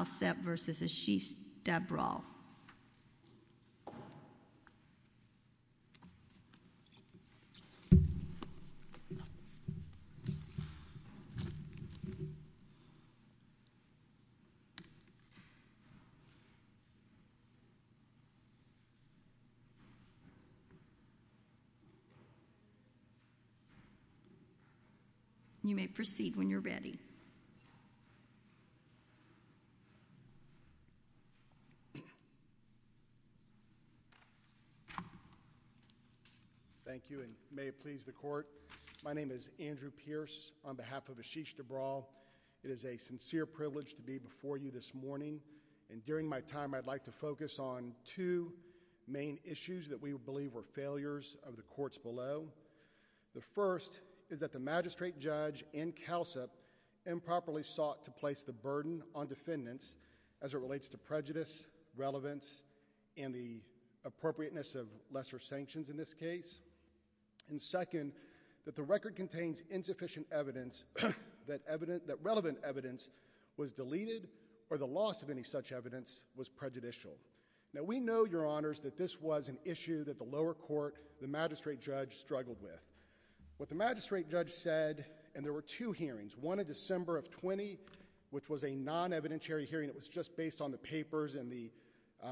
You may proceed when you're ready. Thank you and may it please the court. My name is Andrew Pierce on behalf of Ashish Dabral. It is a sincere privilege to be before you this morning and during my time I'd like to focus on two main issues that we believe were failures of the courts below. The first is that the magistrate judge and Calsep improperly sought to place the burden on defendants as it relates to prejudice, relevance, and the appropriateness of lesser sanctions in this case. And second, that the record contains insufficient evidence that relevant evidence was deleted or the loss of any such evidence was prejudicial. Now we know, your honors, that this was an issue that the lower court, the magistrate judge, struggled with. What the magistrate judge said, and there were two hearings, one of December of 20, which was a non-evidentiary hearing, it was just based on the papers and the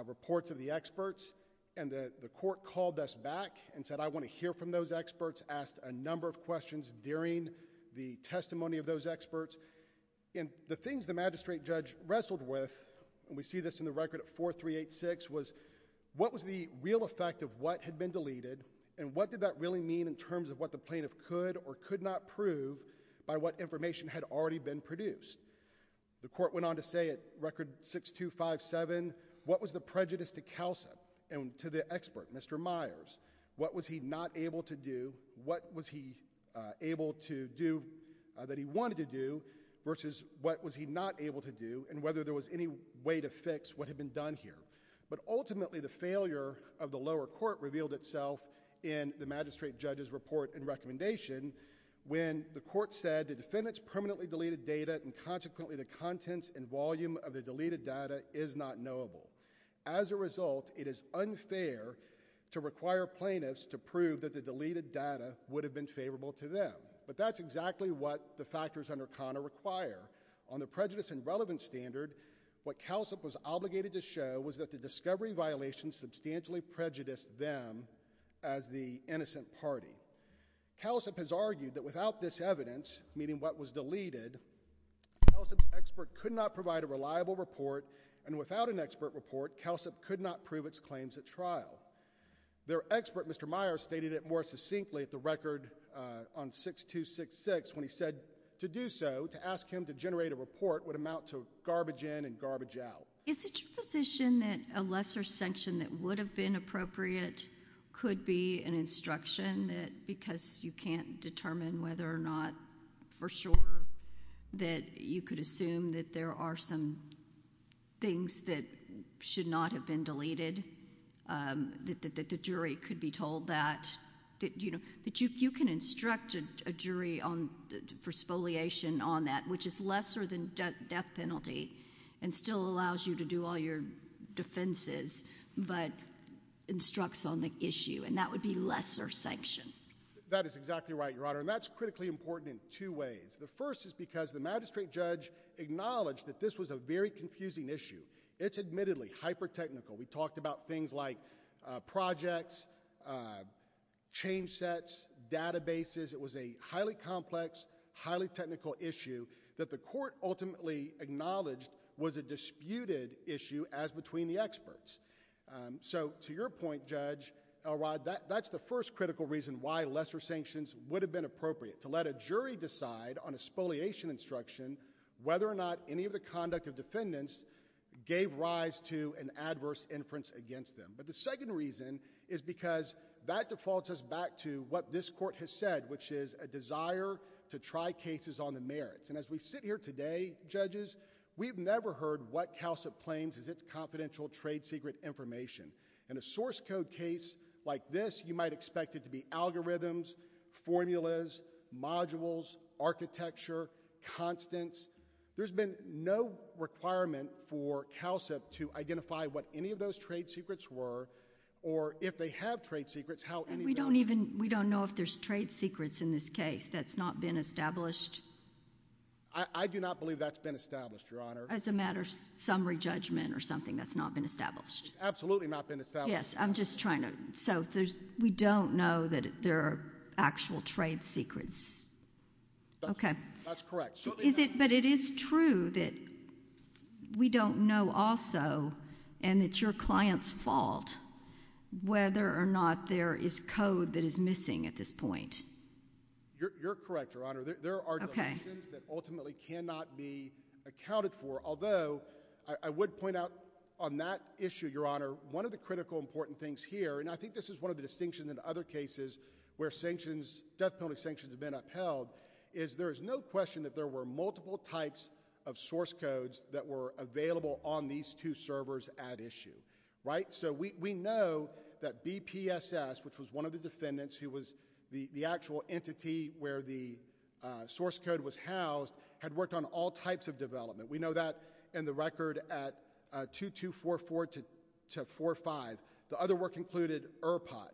reports of the experts, and the court called us back and said, I want to hear from those experts, asked a number of questions during the testimony of those experts, and the things the magistrate judge wrestled with, and we see this in the record at 4386, was what was the real effect of what had been deleted and what did that really mean in terms of what the plaintiff could or could not prove by what information had already been produced. The court went on to say at record 6257, what was the prejudice to Calsep and to the expert, Mr. Myers, what was he not able to do, what was he able to do that he wanted to do versus what was he not able to do, and whether there was any way to fix what had been done here. But ultimately the failure of the lower court revealed itself in the magistrate judge's report and recommendation when the court said the defendant's permanently deleted data and consequently the contents and volume of the deleted data is not knowable. As a result, it is unfair to require plaintiffs to prove that the deleted data would have been favorable to them. But that's exactly what the factors under CONA require. On the prejudice and relevance standard, what Calsep was obligated to show was that the discovery violations substantially prejudiced them as the innocent party. Calsep has argued that without this evidence, meaning what was deleted, Calsep's expert could not provide a reliable report, and without an expert report, Calsep could not prove its claims at trial. Their expert, Mr. Myers, stated it more succinctly at the record on 6266 when he said to do so, to ask him to generate a report would amount to garbage in and garbage out. Is it your position that a lesser sanction that would have been appropriate could be an instruction that because you can't determine whether or not for sure that you could assume that there are some things that should not have been deleted, that the jury could be told that, that you know, that you can instruct a jury for spoliation on that, which is lesser than death penalty and still allows you to do all your defenses, but instructs on the issue, and that would be lesser sanction? That is exactly right, Your Honor, and that's critically important in two ways. The first is because the magistrate judge acknowledged that this was a very confusing issue. It's admittedly hyper-technical. We talked about things like projects, change sets, databases. It was a highly complex, highly technical issue that the court ultimately acknowledged was a disputed issue as between the experts. So to your point, Judge Elrod, that's the first critical reason why lesser sanctions would have been appropriate, to let a jury decide on a spoliation instruction whether or not any of the conduct of defendants gave rise to an adverse inference against them. But the second reason is because that defaults us back to what this court has said, which is a desire to try cases on the merits, and as we sit here today, judges, we've never heard what CalCIP claims as its confidential trade secret information. In a source code case like this, you might expect it to be algorithms, formulas, modules, architecture, constants. There's been no requirement for CalCIP to identify what any of those trade secrets were, or if they have trade secrets, how any of them... We don't even... we don't know if there's trade secrets in this case that's not been established... I do not believe that's been established, Your Honor. As a matter of summary judgment or something that's not been established. It's absolutely not been established. Yes. I'm just trying to... so there's... we don't know that there are actual trade secrets? That's... Okay. That's correct. Is it... but it is true that we don't know also, and it's your client's fault, whether or not there is code that is missing at this point? You're correct, Your Honor. There are... Okay. There are sanctions that ultimately cannot be accounted for, although, I would point out on that issue, Your Honor, one of the critical important things here, and I think this is one of the distinctions in other cases where sanctions, death penalty sanctions have been upheld, is there is no question that there were multiple types of source codes that were available on these two servers at issue, right? So we know that BPSS, which was one of the defendants who was the actual entity where the source code was housed, had worked on all types of development. We know that in the record at 2244-45. The other work included ERPOT,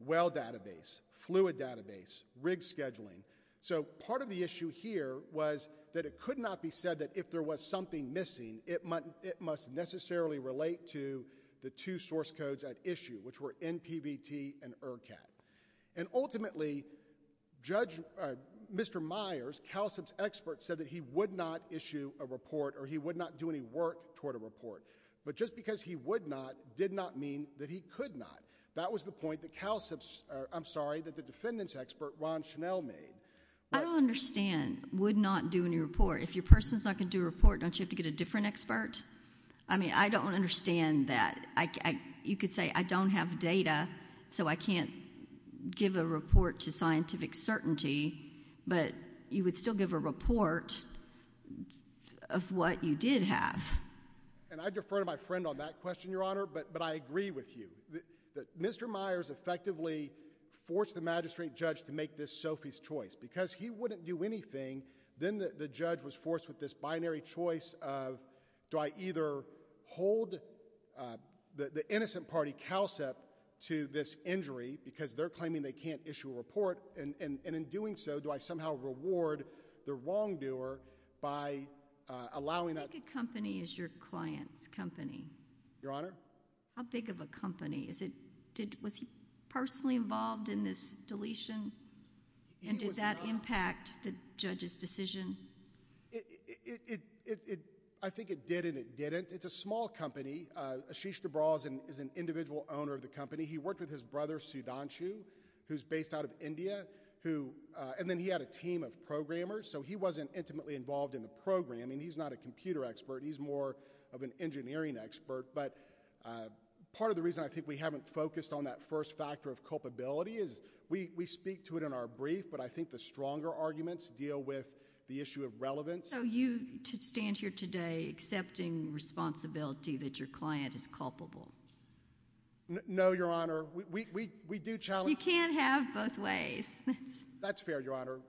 well database, fluid database, rig scheduling. So part of the issue here was that it could not be said that if there was something missing, it must necessarily relate to the two source codes at issue, which were NPVT and ERCAT. And ultimately, Judge... Mr. Myers, CALSIP's expert, said that he would not issue a report or he would not do any work toward a report. But just because he would not did not mean that he could not. That was the point that CALSIP's... I'm sorry, that the defendant's expert, Ron Schnell, made. I don't understand would not do any report. If your person is not going to do a report, don't you have to get a different expert? I mean, I don't understand that. You could say, I don't have data, so I can't give a report to scientific certainty, but you would still give a report of what you did have. And I defer to my friend on that question, Your Honor, but I agree with you. Mr. Myers effectively forced the magistrate judge to make this Sophie's choice. Because he wouldn't do anything, then the judge was forced with this binary choice of do I either hold the innocent party, CALSIP, to this injury because they're claiming they can't issue a report, and in doing so, do I somehow reward the wrongdoer by allowing a... How big a company is your client's company? Your Honor? How big of a company? How did that impact the judge's decision? I think it did and it didn't. It's a small company. Ashish Dibral is an individual owner of the company. He worked with his brother, Sudhanshu, who's based out of India, and then he had a team of programmers, so he wasn't intimately involved in the programming. He's not a computer expert. He's more of an engineering expert. But part of the reason I think we haven't focused on that first factor of culpability is we speak to it in our brief, but I think the stronger arguments deal with the issue of relevance. So you, to stand here today, accepting responsibility that your client is culpable? No, Your Honor. We do challenge... You can't have both ways. That's fair, Your Honor.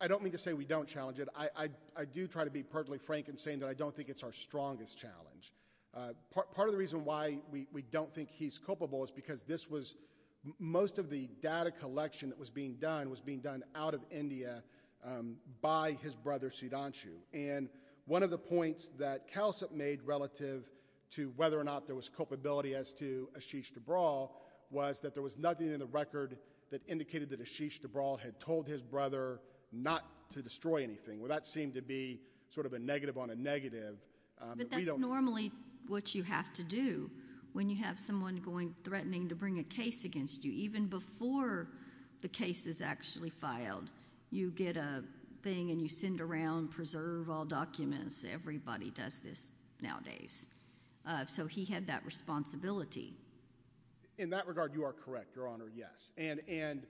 I don't mean to say we don't challenge it. I do try to be perfectly frank in saying that I don't think it's our strongest challenge. Part of the reason why we don't think he's culpable is because this was... most of the data collection that was being done was being done out of India by his brother, Sudhanshu. And one of the points that CalCIP made relative to whether or not there was culpability as to Ashish Dibral was that there was nothing in the record that indicated that Ashish Dibral had told his brother not to destroy anything. Well, that seemed to be sort of a negative on a negative. But that's normally what you have to do when you have someone going, threatening to bring a case against you, even before the case is actually filed. You get a thing and you send around, preserve all documents. Everybody does this nowadays. So he had that responsibility. In that regard, you are correct, Your Honor, yes. And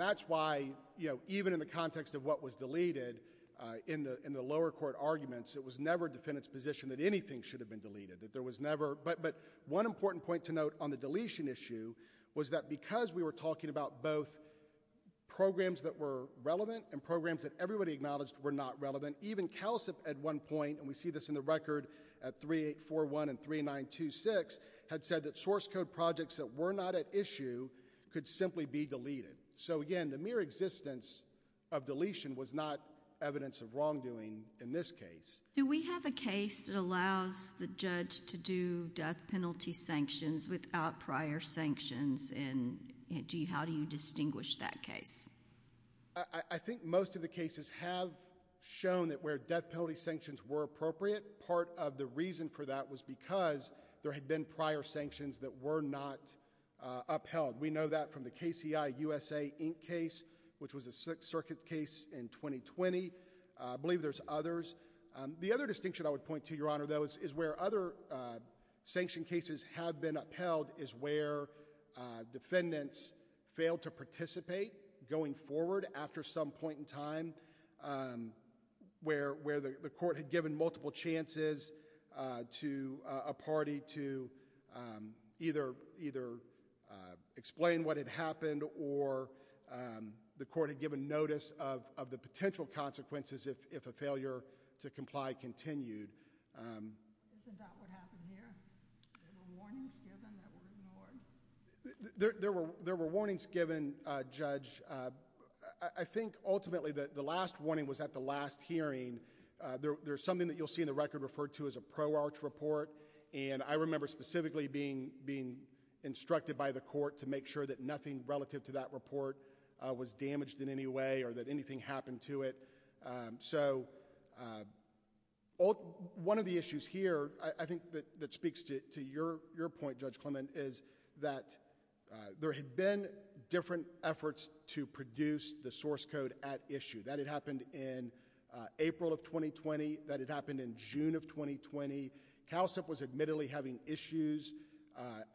that's why, you know, even in the context of what was deleted in the lower court arguments, it was never a defendant's position that anything should have been deleted, that there was never... But one important point to note on the deletion issue was that because we were talking about both programs that were relevant and programs that everybody acknowledged were not relevant, even CalCIP at one point, and we see this in the record at 3841 and 3926, had said that source code projects that were not at issue could simply be deleted. So again, the mere existence of deletion was not evidence of wrongdoing in this case. Do we have a case that allows the judge to do death penalty sanctions without prior sanctions? And how do you distinguish that case? I think most of the cases have shown that where death penalty sanctions were appropriate, part of the reason for that was because there had been prior sanctions that were not upheld. We know that from the KCI-USA Inc. case, which was a Sixth Circuit case in 2020. I believe there's others. The other distinction I would point to, Your Honor, though, is where other sanction cases have been upheld is where defendants failed to participate going forward after some point in time, where the court had given multiple chances to a party to either explain what had happened or the court had given notice of the potential consequences if a failure to comply continued. Is that what happened here? There were warnings given that were ignored? There were warnings given, Judge. I think, ultimately, that the last warning was at the last hearing. There's something that you'll see in the record referred to as a pro-arch report. I remember specifically being instructed by the court to make sure that nothing relative to that report was damaged in any way or that anything happened to it. One of the issues here, I think, that speaks to your point, Judge Clement, is that there had been different efforts to produce the source code at issue. That had happened in April of 2020. That had happened in June of 2020. CALSEP was admittedly having issues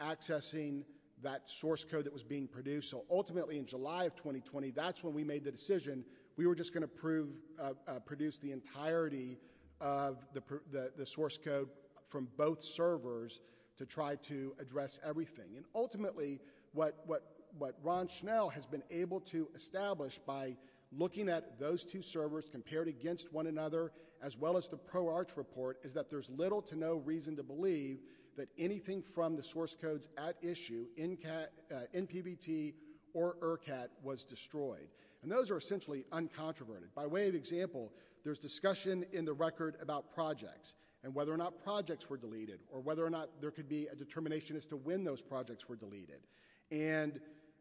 accessing that source code that was being produced. Ultimately, in July of 2020, that's when we made the decision we were just going to produce the entirety of the source code from both servers to try to address everything. Ultimately, what Ron Schnell has been able to establish by looking at those two servers compared against one another, as well as the pro-arch report, is that there's little to no reason to believe that anything from the source codes at issue, NPVT or ERCAT, was destroyed. Those are essentially uncontroverted. By way of example, there's discussion in the record about projects and whether or not projects were deleted, or whether or not there could be a determination as to when those projects were deleted.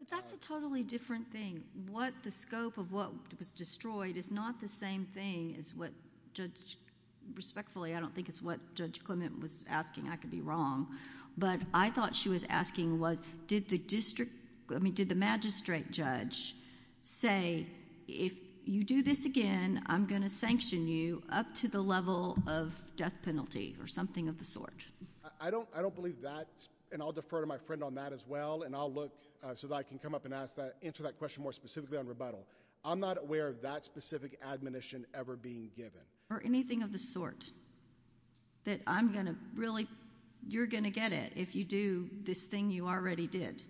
That's a totally different thing. The scope of what was destroyed is not the same thing as what Judge... Respectfully, I don't think it's what Judge Clement was asking, I could be wrong. I thought she was asking, did the magistrate judge say, if you do this again, I'm going to sanction you up to the level of death penalty, or something of the sort? I don't believe that, and I'll defer to my friend on that as well, and I'll look so that I can come up and answer that question more specifically on rebuttal. I'm not aware of that specific admonition ever being given. Or anything of the sort, that I'm going to really... you're going to get it if you do this thing you already did?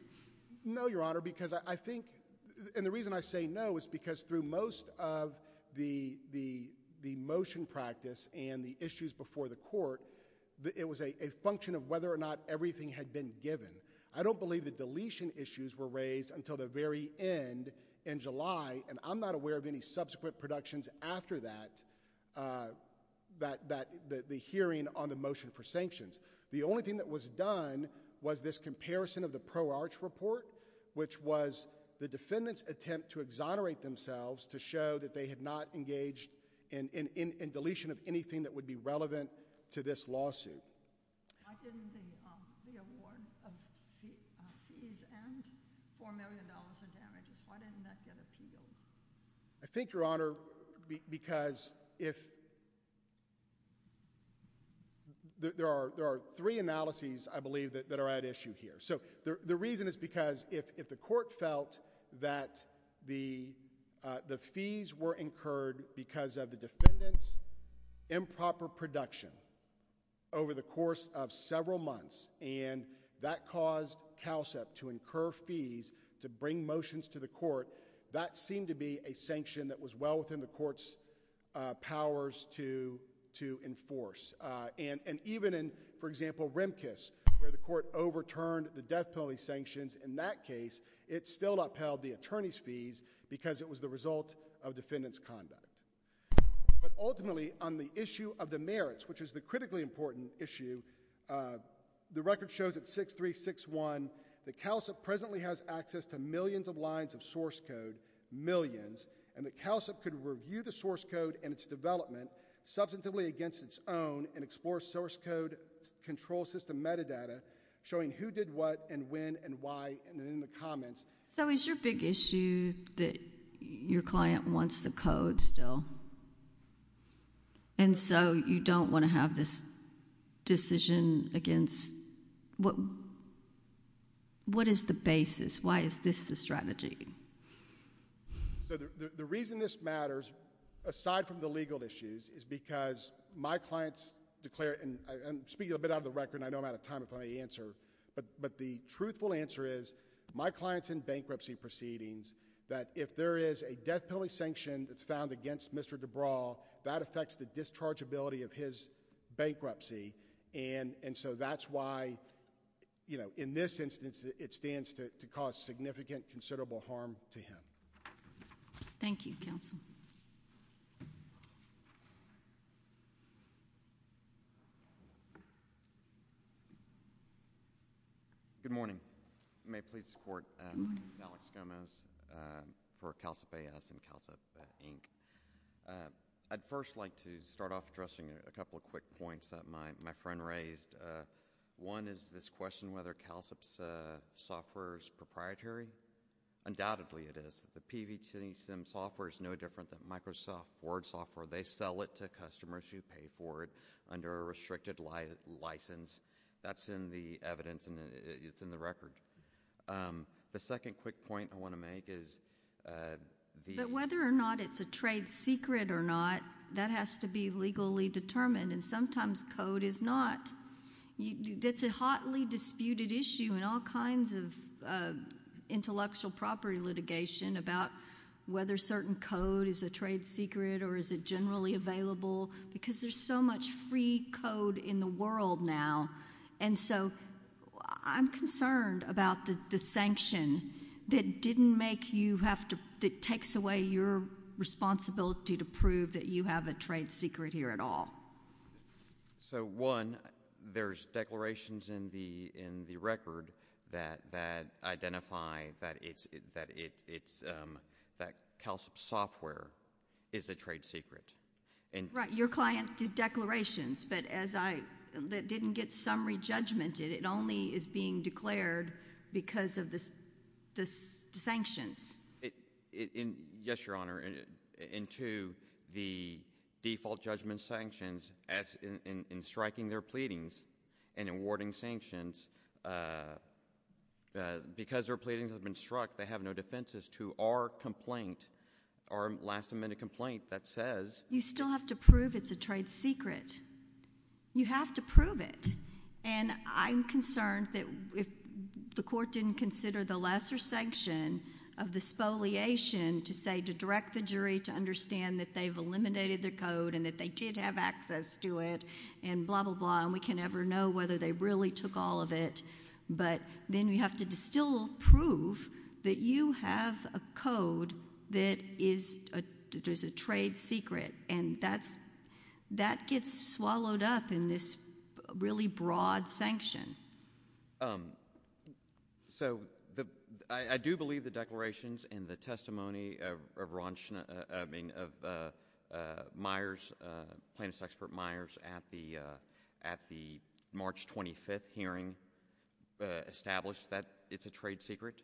No, Your Honor, because I think... and the reason I say no is because through most of the motion practice and the issues before the court, it was a function of whether or not everything had been given. I don't believe the deletion issues were raised until the very end in July, and I'm not aware of any subsequent productions after that, the hearing on the motion for sanctions. The only thing that was done was this comparison of the pro-arch report, which was the defendant's attempt to exonerate themselves to show that they had not engaged in deletion of anything that would be relevant to this lawsuit. Why didn't the award of fees and $4 million of damages, why didn't that get appealed? I think, Your Honor, because if... there are three analyses, I believe, that are at issue here. The reason is because if the court felt that the fees were incurred because of the defendant's improper production over the course of several months, and that caused CALSEP to incur fees to bring motions to the court, that seemed to be a sanction that was well within the court's powers to enforce. Even in, for example, Remkus, where the court overturned the death penalty sanctions in that case, it still upheld the attorney's fees because it was the result of defendant's conduct. Ultimately, on the issue of the merits, which is the critically important issue, the record shows at 6361 that CALSEP presently has access to millions of lines of source code, millions, and that CALSEP could review the source code and its development substantively against its own and explore source code control system metadata, showing who did what and when and why, and in the comments... So is your big issue that your client wants the code still, and so you don't want to have this decision against... What is the basis? Why is this the strategy? The reason this matters, aside from the legal issues, is because my clients declare... I'm speaking a bit out of the record, and I know I'm out of time if I may answer, but the truthful answer is my clients in bankruptcy proceedings, that if there is a death penalty sanction that's found against Mr. DeBraw, that affects the dischargeability of his bankruptcy, and so that's why, you know, in this instance, it stands to cause significant, considerable harm to him. Thank you, Counsel. Good morning. May it please the Court, my name is Alex Gomez for CALSEP AS and CALSEP, Inc. I'd first like to start off addressing a couple of quick points that my friend raised. One is this question whether CALSEP's software is proprietary. Undoubtedly it is. The PVT SIM software is no different than Microsoft Word software. They sell it to customers who pay for it under a restricted license. That's in the evidence, and it's in the record. The second quick point I want to make is... But whether or not it's a trade secret or not, that has to be legally determined, and sometimes code is not. That's a hotly disputed issue in all kinds of intellectual property litigation about whether certain code is a trade secret or is it generally available, because there's so much free code in the world now, and so I'm concerned about the sanction that didn't make you have to... that takes away your responsibility to prove that you have a trade secret here at all. So, one, there's declarations in the record that identify that CALSEP's software is a trade secret. Right. Your client did declarations, but as I... that didn't get summary judgment. It only is being declared because of the sanctions. Yes, Your Honor. And two, the default judgment sanctions, in striking their pleadings and awarding sanctions, because their pleadings have been struck, they have no defenses to our complaint, our last amendment complaint that says... You still have to prove it's a trade secret. You have to prove it, and I'm concerned that if the court didn't consider the lesser sanction of the spoliation to say, to direct the jury to understand that they've eliminated their code and that they did have access to it and blah, blah, blah, and we can never know whether they really took all of it, but then you have to still prove that you have a code that is a trade secret, and that gets swallowed up in this really broad sanction. So, I do believe the declarations and the testimony of Ron Schna... I mean, of Meyers, plaintiff's expert Meyers, at the March 25th hearing, established that it's a trade secret.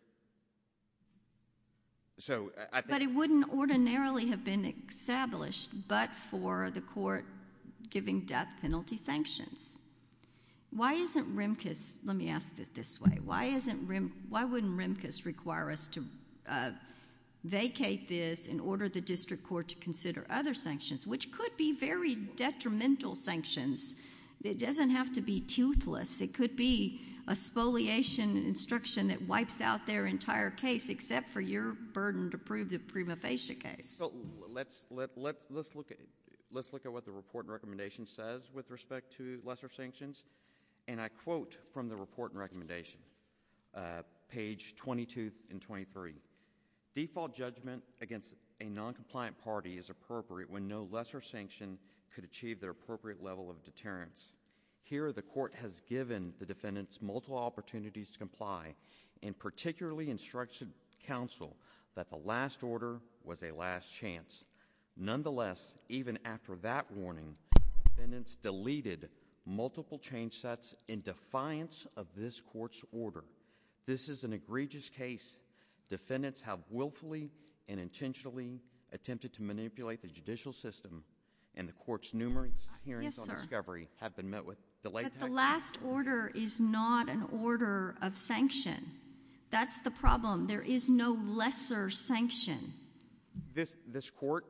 But it wouldn't ordinarily have been established but for the court giving death penalty sanctions. Why isn't Remkes... let me ask it this way. Why wouldn't Remkes require us to vacate this and order the district court to consider other sanctions, which could be very detrimental sanctions. It doesn't have to be toothless. It could be a spoliation instruction that wipes out their entire case, except for your burden to prove the Prima Facie case. So, let's look at what the report and recommendation says with respect to lesser sanctions. And I quote from the report and recommendation, page 22 and 23, default judgment against a noncompliant party is appropriate when no lesser sanction could achieve their appropriate level of deterrence. Here the court has given the defendants multiple opportunities to comply, and particularly instructed counsel that the last order was a last chance. Nonetheless, even after that warning, defendants deleted multiple change sets in defiance of this court's order. This is an egregious case. Defendants have willfully and intentionally attempted to manipulate the judicial system, and the court's numerous hearings on discovery have been met with... Yes, sir. But the last order is not an order of sanction. That's the problem. There is no lesser sanction. This court,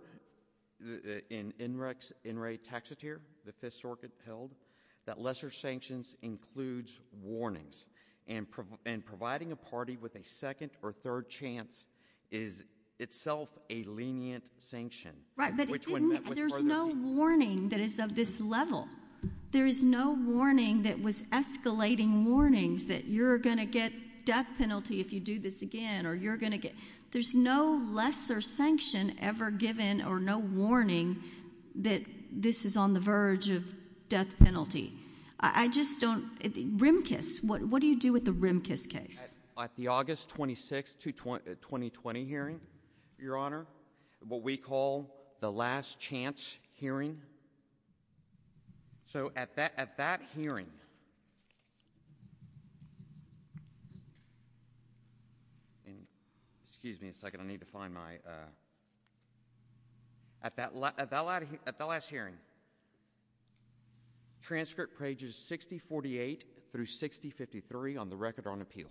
in Enright Taxotere, the Fifth Circuit, held that lesser sanctions includes warnings, and providing a party with a second or third chance is itself a lenient sanction. Right, but it didn't... Which one met with... There's no warning that is of this level. There is no warning that was escalating warnings that you're going to get death penalty if you do this again, or you're going to get... There's no lesser sanction ever given, or no warning that this is on the verge of death penalty. I just don't... Rimkus, what do you do with the Rimkus case? At the August 26, 2020 hearing, Your Honor, what we call the last chance hearing... So at that hearing... Excuse me a second, I need to find my... At that last hearing, transcript pages 6048 through 6053 on the record on appeal,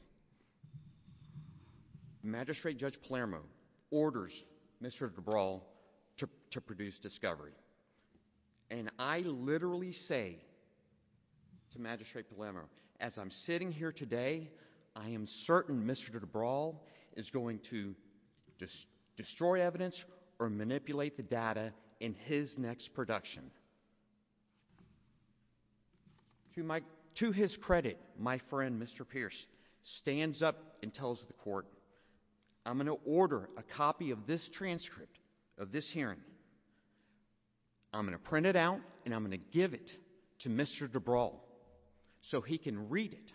Magistrate Judge Palermo orders Mr. DeBrawl to produce discovery, and I literally say to Magistrate Palermo, as I'm sitting here today, I am certain Mr. DeBrawl is going to destroy evidence or manipulate the data in his next production. To his credit, my friend Mr. Pierce stands up and tells the court, I'm going to order a copy of this transcript of this hearing, I'm going to print it out, and I'm going to give it to Mr. DeBrawl so he can read it,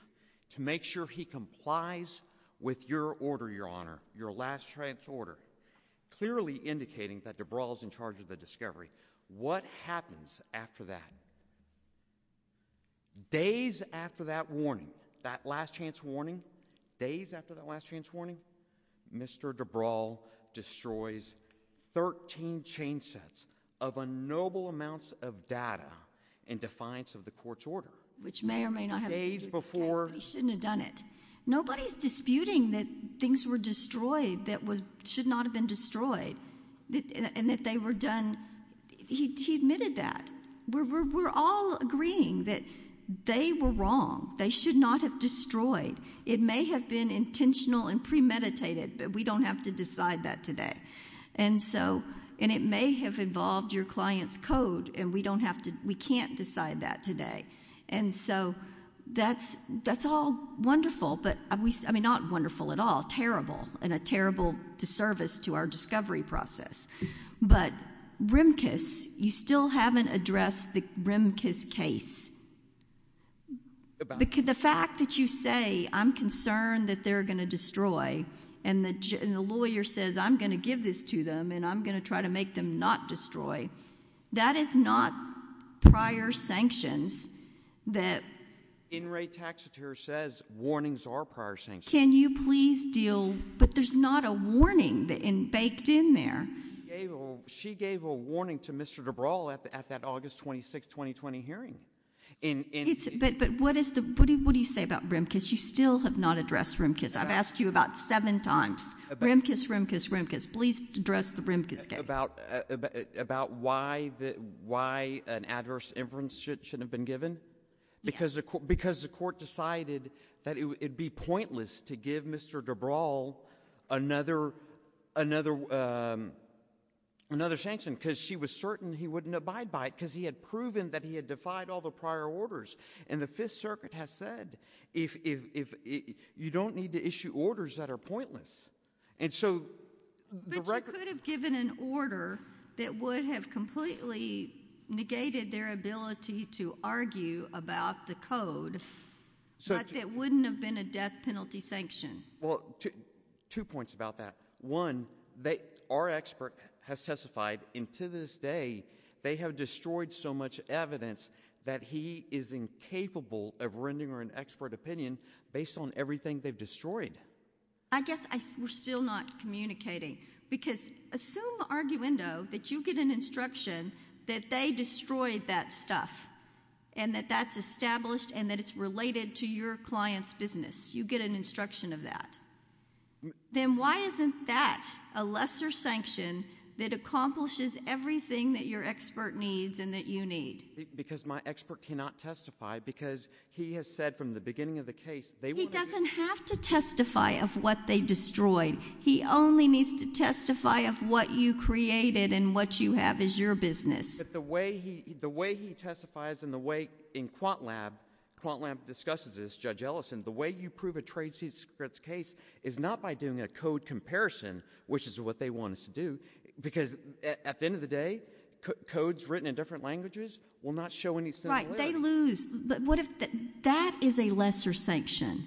to make sure he complies with your order, and I think that DeBrawl is in charge of the discovery. What happens after that? Days after that warning, that last chance warning, days after that last chance warning, Mr. DeBrawl destroys 13 chainsets of unknowable amounts of data in defiance of the court's order. Which may or may not have... Days before... He shouldn't have done it. And nobody's disputing that things were destroyed that should not have been destroyed, and that they were done... He admitted that. We're all agreeing that they were wrong. They should not have destroyed. It may have been intentional and premeditated, but we don't have to decide that today. And it may have involved your client's code, and we can't decide that today. And so, that's all wonderful, but... I mean, not wonderful at all, terrible, and a terrible disservice to our discovery process. But RIMCAS, you still haven't addressed the RIMCAS case. The fact that you say, I'm concerned that they're going to destroy, and the lawyer says, I'm going to give this to them, and I'm going to try to make them not destroy, that is not prior sanctions that... In re taxatire says, warnings are prior sanctions. Can you please deal... But there's not a warning baked in there. She gave a warning to Mr. DeBrawl at that August 26, 2020 hearing. But what do you say about RIMCAS? You still have not addressed RIMCAS. I've asked you about seven times, RIMCAS, RIMCAS, RIMCAS. Please address the RIMCAS case. About why an adverse inference shouldn't have been given? Because the court decided that it would be pointless to give Mr. DeBrawl another sanction because she was certain he wouldn't abide by it because he had proven that he had defied all the prior orders. And the Fifth Circuit has said, you don't need to issue orders that are pointless. And so... But you could have given an order that would have completely negated their ability to argue about the code, but it wouldn't have been a death penalty sanction. Well, two points about that. One, our expert has testified, and to this day, they have destroyed so much evidence that he is incapable of rendering her an expert opinion based on everything they've destroyed. I guess we're still not communicating, because assume, Arguendo, that you get an instruction that they destroyed that stuff and that that's established and that it's related to your client's business. You get an instruction of that. Then why isn't that a lesser sanction that accomplishes everything that your expert needs and that you need? Because my expert cannot testify because he has said from the beginning of the case... He doesn't have to testify of what they destroyed. He only needs to testify of what you created and what you have as your business. The way he testifies and the way in Quantlab, Quantlab discusses this, Judge Ellison, the way you prove a trade secret case is not by doing a code comparison, which is what they want us to do, because at the end of the day, codes written in different languages will not show any similarity. Right. They lose. But what if... That is a lesser sanction.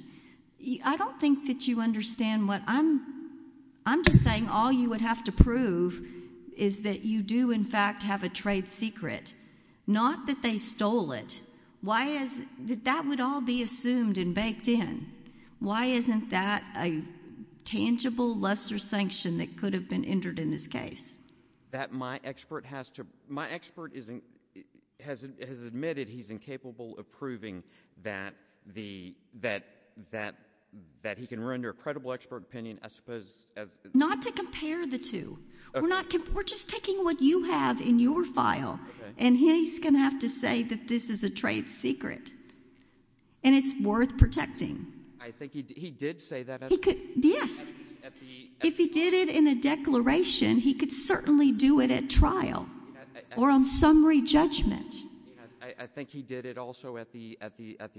I don't think that you understand what... I'm just saying all you would have to prove is that you do, in fact, have a trade secret, not that they stole it. Why is... That would all be assumed and baked in. Why isn't that a tangible lesser sanction that could have been entered in this case? That my expert has to... My expert has admitted he's incapable of proving that he can render a credible expert opinion, I suppose... Not to compare the two. We're just taking what you have in your file, and he's going to have to say that this is a trade secret, and it's worth protecting. I think he did say that at the... Yes. If he did it in a declaration, he could certainly do it at trial or on summary judgment. I think he did it also at the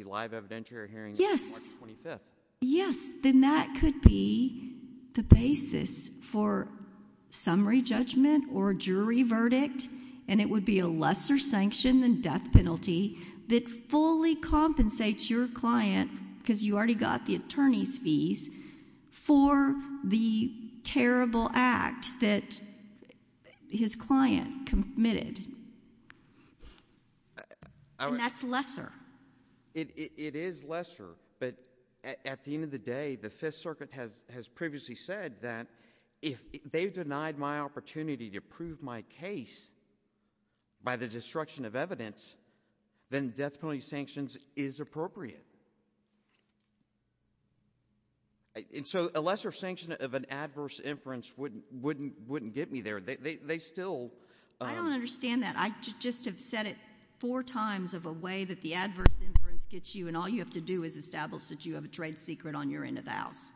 live evidentiary hearing on March 25th. Yes. Then that could be the basis for summary judgment or jury verdict, and it would be a lesser sanction than death penalty that fully compensates your client, because you already got the attorney's approval for the terrible act that his client committed, and that's lesser. It is lesser, but at the end of the day, the Fifth Circuit has previously said that if they've denied my opportunity to prove my case by the destruction of evidence, then death penalty sanctions is appropriate. And so a lesser sanction of an adverse inference wouldn't get me there. They still... I don't understand that. I just have said it four times of a way that the adverse inference gets you, and all you have to do is establish that you have a trade secret on your end of the house.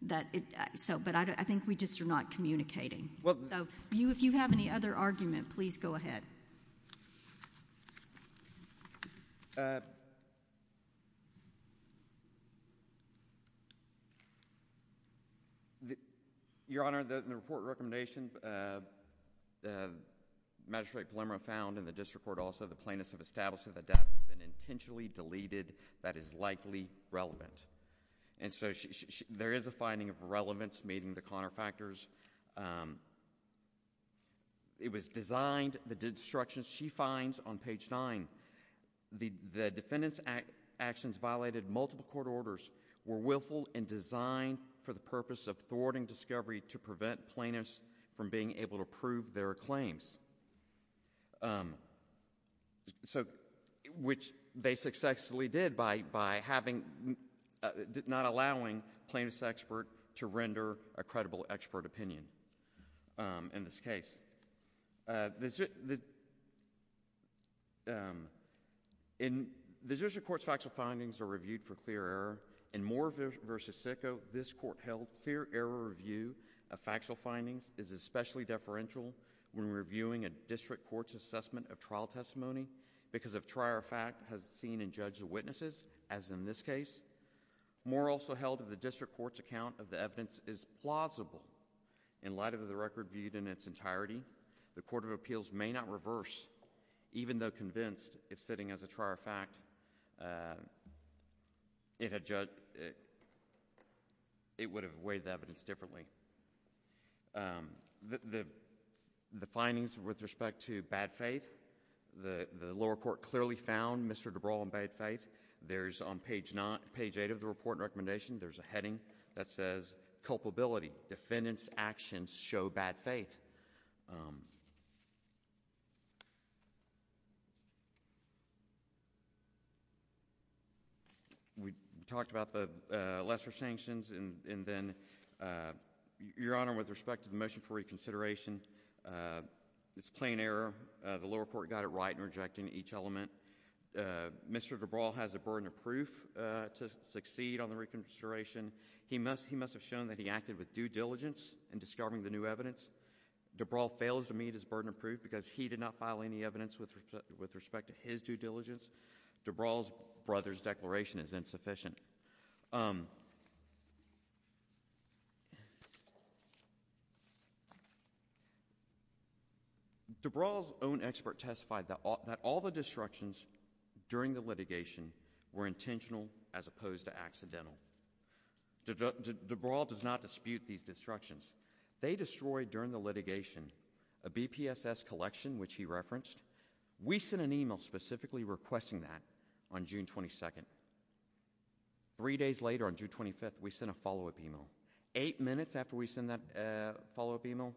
But I think we just are not communicating, so if you have any other argument, please go ahead. Your Honor, in the report recommendation, Magistrate Palumbo found in the district court also the plaintiffs have established that the death has been intentionally deleted that is likely relevant. And so there is a finding of relevance meeting the counterfactors. It was designed, the destruction she finds on page nine, the defendant's actions violated multiple court orders were willful and designed for the purpose of thwarting discovery to prevent plaintiffs from being able to prove their claims, which they successfully did by not allowing plaintiff's expert to render a credible expert opinion in this case. In the district court's factual findings are reviewed for clear error. In Moore v. Sicko, this court held clear error review of factual findings is especially deferential when reviewing a district court's assessment of trial testimony because of prior fact seen in judge's witnesses, as in this case. Moore also held that the district court's account of the evidence is plausible. In light of the record viewed in its entirety, the Court of Appeals may not reverse, even though convinced, if sitting as a trier of fact, it would have weighed the evidence differently. The findings with respect to bad faith, the lower court clearly found Mr. DeBral in bad faith. There is on page eight of the report recommendation, there is a heading that says, culpability, defendant's actions show bad faith. We talked about the lesser sanctions, and then, Your Honor, with respect to the motion for reconsideration, it's plain error. The lower court got it right in rejecting each element. Mr. DeBral has a burden of proof to succeed on the reconsideration. He must have shown that he acted with due diligence in discovering the new evidence. DeBral fails to meet his burden of proof because he did not file any evidence with respect to his due diligence. DeBral's brother's declaration is insufficient. DeBral's own expert testified that all the disruptions during the litigation were intentional as opposed to accidental. DeBral does not dispute these disruptions. They destroyed, during the litigation, a BPSS collection, which he referenced. We sent an email specifically requesting that on June 22nd. Three days later, on June 25th, we sent a follow-up email. Eight minutes after we sent that follow-up email,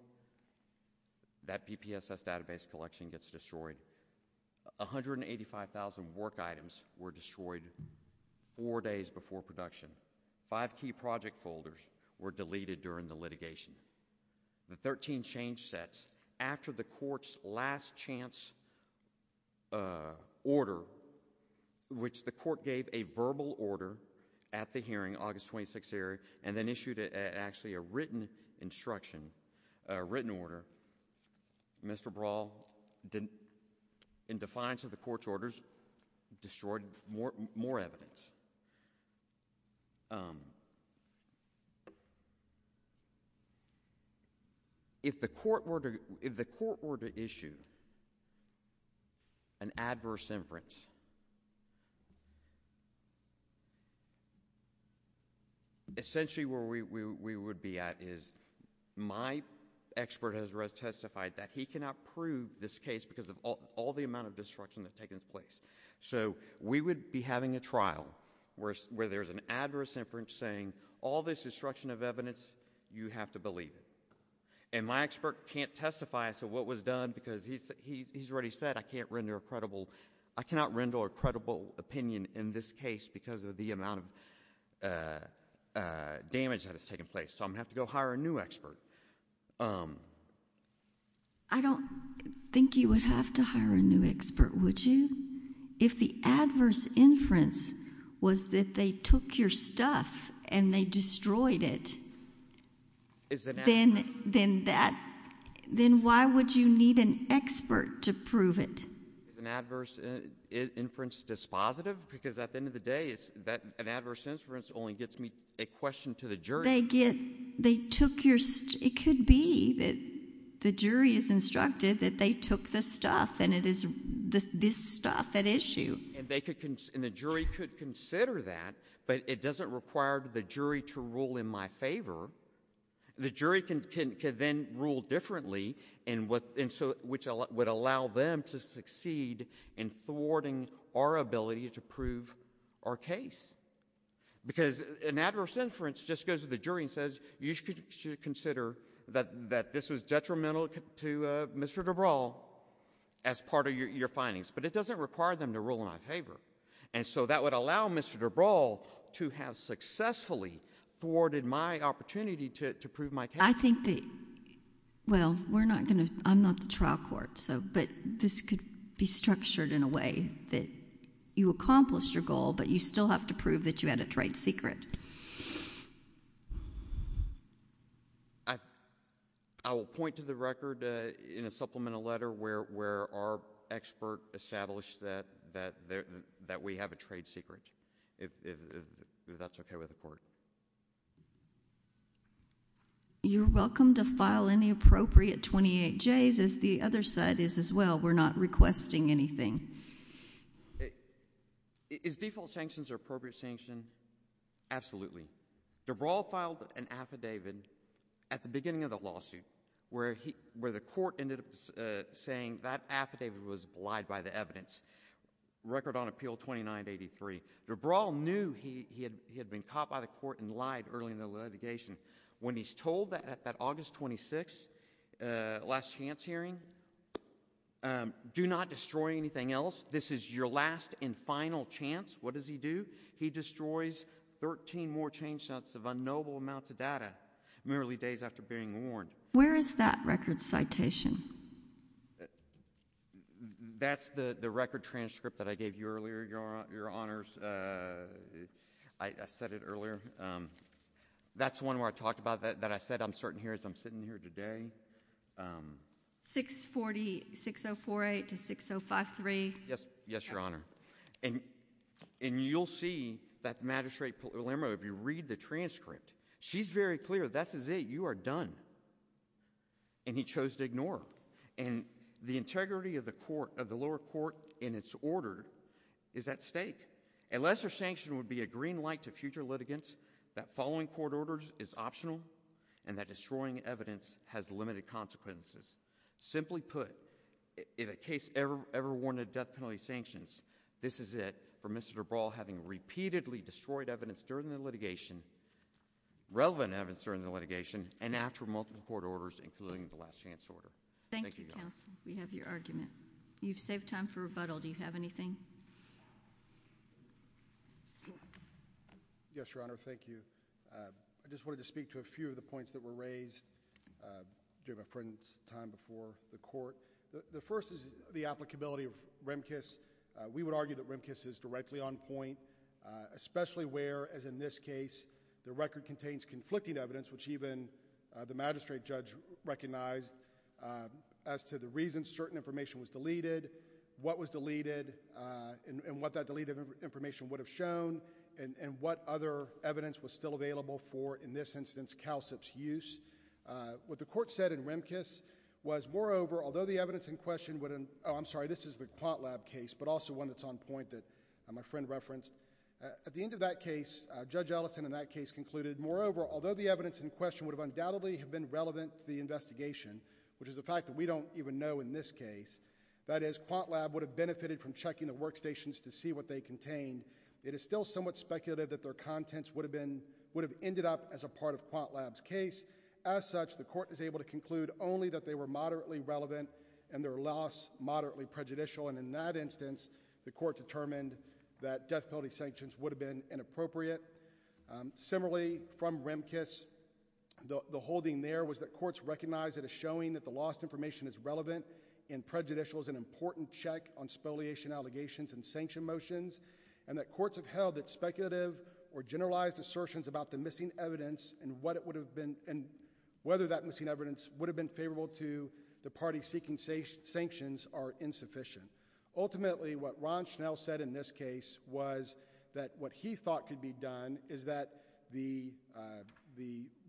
that BPSS database collection gets destroyed. 185,000 work items were destroyed four days before production. Five key project folders were deleted during the litigation. The 13 change sets, after the court's last chance order, which the court gave a verbal order at the hearing, August 26th hearing, and then issued actually a written instruction, a written order, Mr. DeBral, in defiance of the court's orders, destroyed more evidence. If the court were to issue an adverse inference, essentially, where we would be at is, my expert has testified that he cannot prove this case because of all the amount of destruction that's taken place. We would be having a trial where there's an adverse inference saying, all this destruction of evidence, you have to believe it. My expert can't testify as to what was done because he's already said, I can't render a credible... I cannot render a credible opinion in this case because of the amount of damage that has taken place, so I'm going to have to go hire a new expert. I don't think you would have to hire a new expert, would you? If the adverse inference was that they took your stuff and they destroyed it, then why would you need an expert to prove it? Is an adverse inference dispositive? Because at the end of the day, an adverse inference only gets me a question to the jury. They took your... It could be that the jury is instructed that they took the stuff and it is this stuff at issue. The jury could consider that, but it doesn't require the jury to rule in my favor. The jury can then rule differently, which would allow them to succeed in thwarting our ability to prove our case because an adverse inference just goes to the jury and says, you should consider that this was detrimental to Mr. DeBrawl as part of your findings, but it doesn't require them to rule in my favor. And so that would allow Mr. DeBrawl to have successfully thwarted my opportunity to prove my case. I think that... Well, we're not going to... I'm not the trial court, but this could be structured in a way that you accomplished your goal, but you still have to prove that you had a trade secret. I will point to the record in a supplemental letter where our expert established that we have a trade secret, if that's okay with the court. You're welcome to file any appropriate 28Js, as the other side is as well. We're not requesting anything. Is default sanctions an appropriate sanction? Absolutely. DeBrawl filed an affidavit at the beginning of the lawsuit where the court ended up saying that affidavit was lied by the evidence. Record on appeal 2983. DeBrawl knew he had been caught by the court and lied early in the litigation. When he's told that at that August 26th last chance hearing, do not destroy anything else. This is your last and final chance. What does he do? He destroys 13 more change sets of unknowable amounts of data merely days after being warned. Where is that record citation? That's the record transcript that I gave you earlier, Your Honors. I said it earlier. That's the one where I talked about that, that I said I'm starting here as I'm sitting here today. 640, 6048 to 6053. Yes, Your Honor. And you'll see that Magistrate Palermo, if you read the transcript, she's very clear that this is it, you are done. And he chose to ignore her. And the integrity of the court, of the lower court in its order is at stake. A lesser sanction would be a green light to future litigants that following court orders is optional and that destroying evidence has limited consequences. Simply put, in a case ever warned of death penalty sanctions, this is it for Mr. DeBrawl having repeatedly destroyed evidence during the litigation, relevant evidence during the litigation, and after multiple court orders including the last chance order. Thank you, Your Honor. We have your argument. You've saved time for rebuttal. Do you have anything? Yes, Your Honor, thank you. I just wanted to speak to a few of the points that were raised during my friend's time before the court. The first is the applicability of REMCIS. We would argue that REMCIS is directly on point, especially where, as in this case, the record contains conflicting evidence which even the magistrate judge recognized as to the reason certain information was deleted, what was deleted, and what that deleted information would have shown, and what other evidence was still available for, in this instance, CALCIP's use. What the court said in REMCIS was, moreover, although the evidence in question would have, oh, I'm sorry, this is the QuantLab case, but also one that's on point that my friend referenced. At the end of that case, Judge Ellison in that case concluded, moreover, although the evidence in question would have undoubtedly have been relevant to the investigation, which is a fact that we don't even know in this case, that is, QuantLab would have benefited from checking the workstations to see what they contained. It is still somewhat speculative that their contents would have ended up as a part of QuantLab's case. As such, the court is able to conclude only that they were moderately relevant and their loss moderately prejudicial. And in that instance, the court determined that death penalty sanctions would have been inappropriate. Similarly, from REMCIS, the holding there was that courts recognized that a showing that the lost information is relevant and prejudicial is an important check on spoliation allegations and sanction motions. And that courts have held that speculative or generalized assertions about the missing evidence and what it would have been, and whether that missing evidence would have been favorable to the party seeking sanctions are insufficient. Ultimately, what Ron Schnell said in this case was that what he thought could be done is that the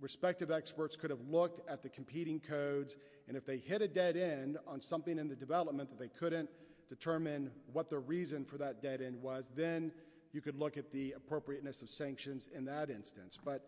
respective experts could have looked at the competing codes. And if they hit a dead end on something in the development that they couldn't determine what the reason for that dead end was, then you could look at the appropriateness of sanctions in that instance. But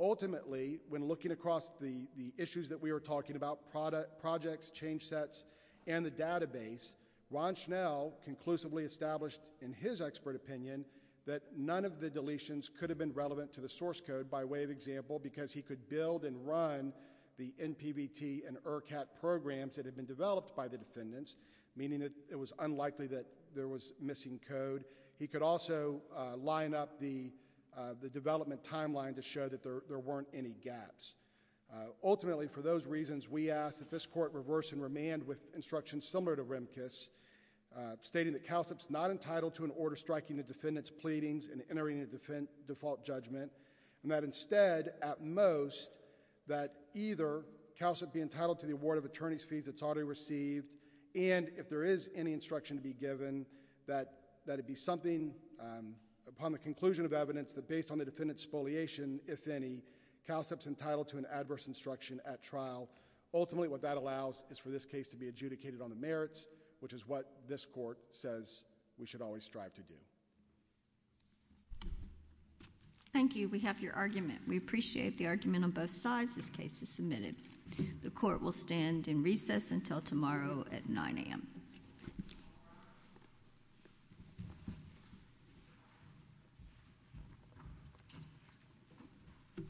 ultimately, when looking across the issues that we were talking about, the projects, change sets, and the database, Ron Schnell conclusively established in his expert opinion that none of the deletions could have been relevant to the source code by way of example because he could build and run the NPVT and ERCAT programs that had been developed by the defendants, meaning that it was unlikely that there was missing code. He could also line up the development timeline to show that there weren't any gaps. Ultimately, for those reasons, we ask that this court reverse and remand with instructions similar to Remkus, stating that CALSEP's not entitled to an order striking the defendant's pleadings and entering a default judgment. And that instead, at most, that either CALSEP be entitled to the award of attorney's fees it's already received. And if there is any instruction to be given, that it be something upon the conclusion of evidence that based on the defendant's spoliation, if any, CALSEP's entitled to an adverse instruction at trial. Ultimately, what that allows is for this case to be adjudicated on the merits, which is what this court says we should always strive to do. Thank you. We have your argument. We appreciate the argument on both sides. This case is submitted. The court will stand in recess until tomorrow at 9 AM. Thank you.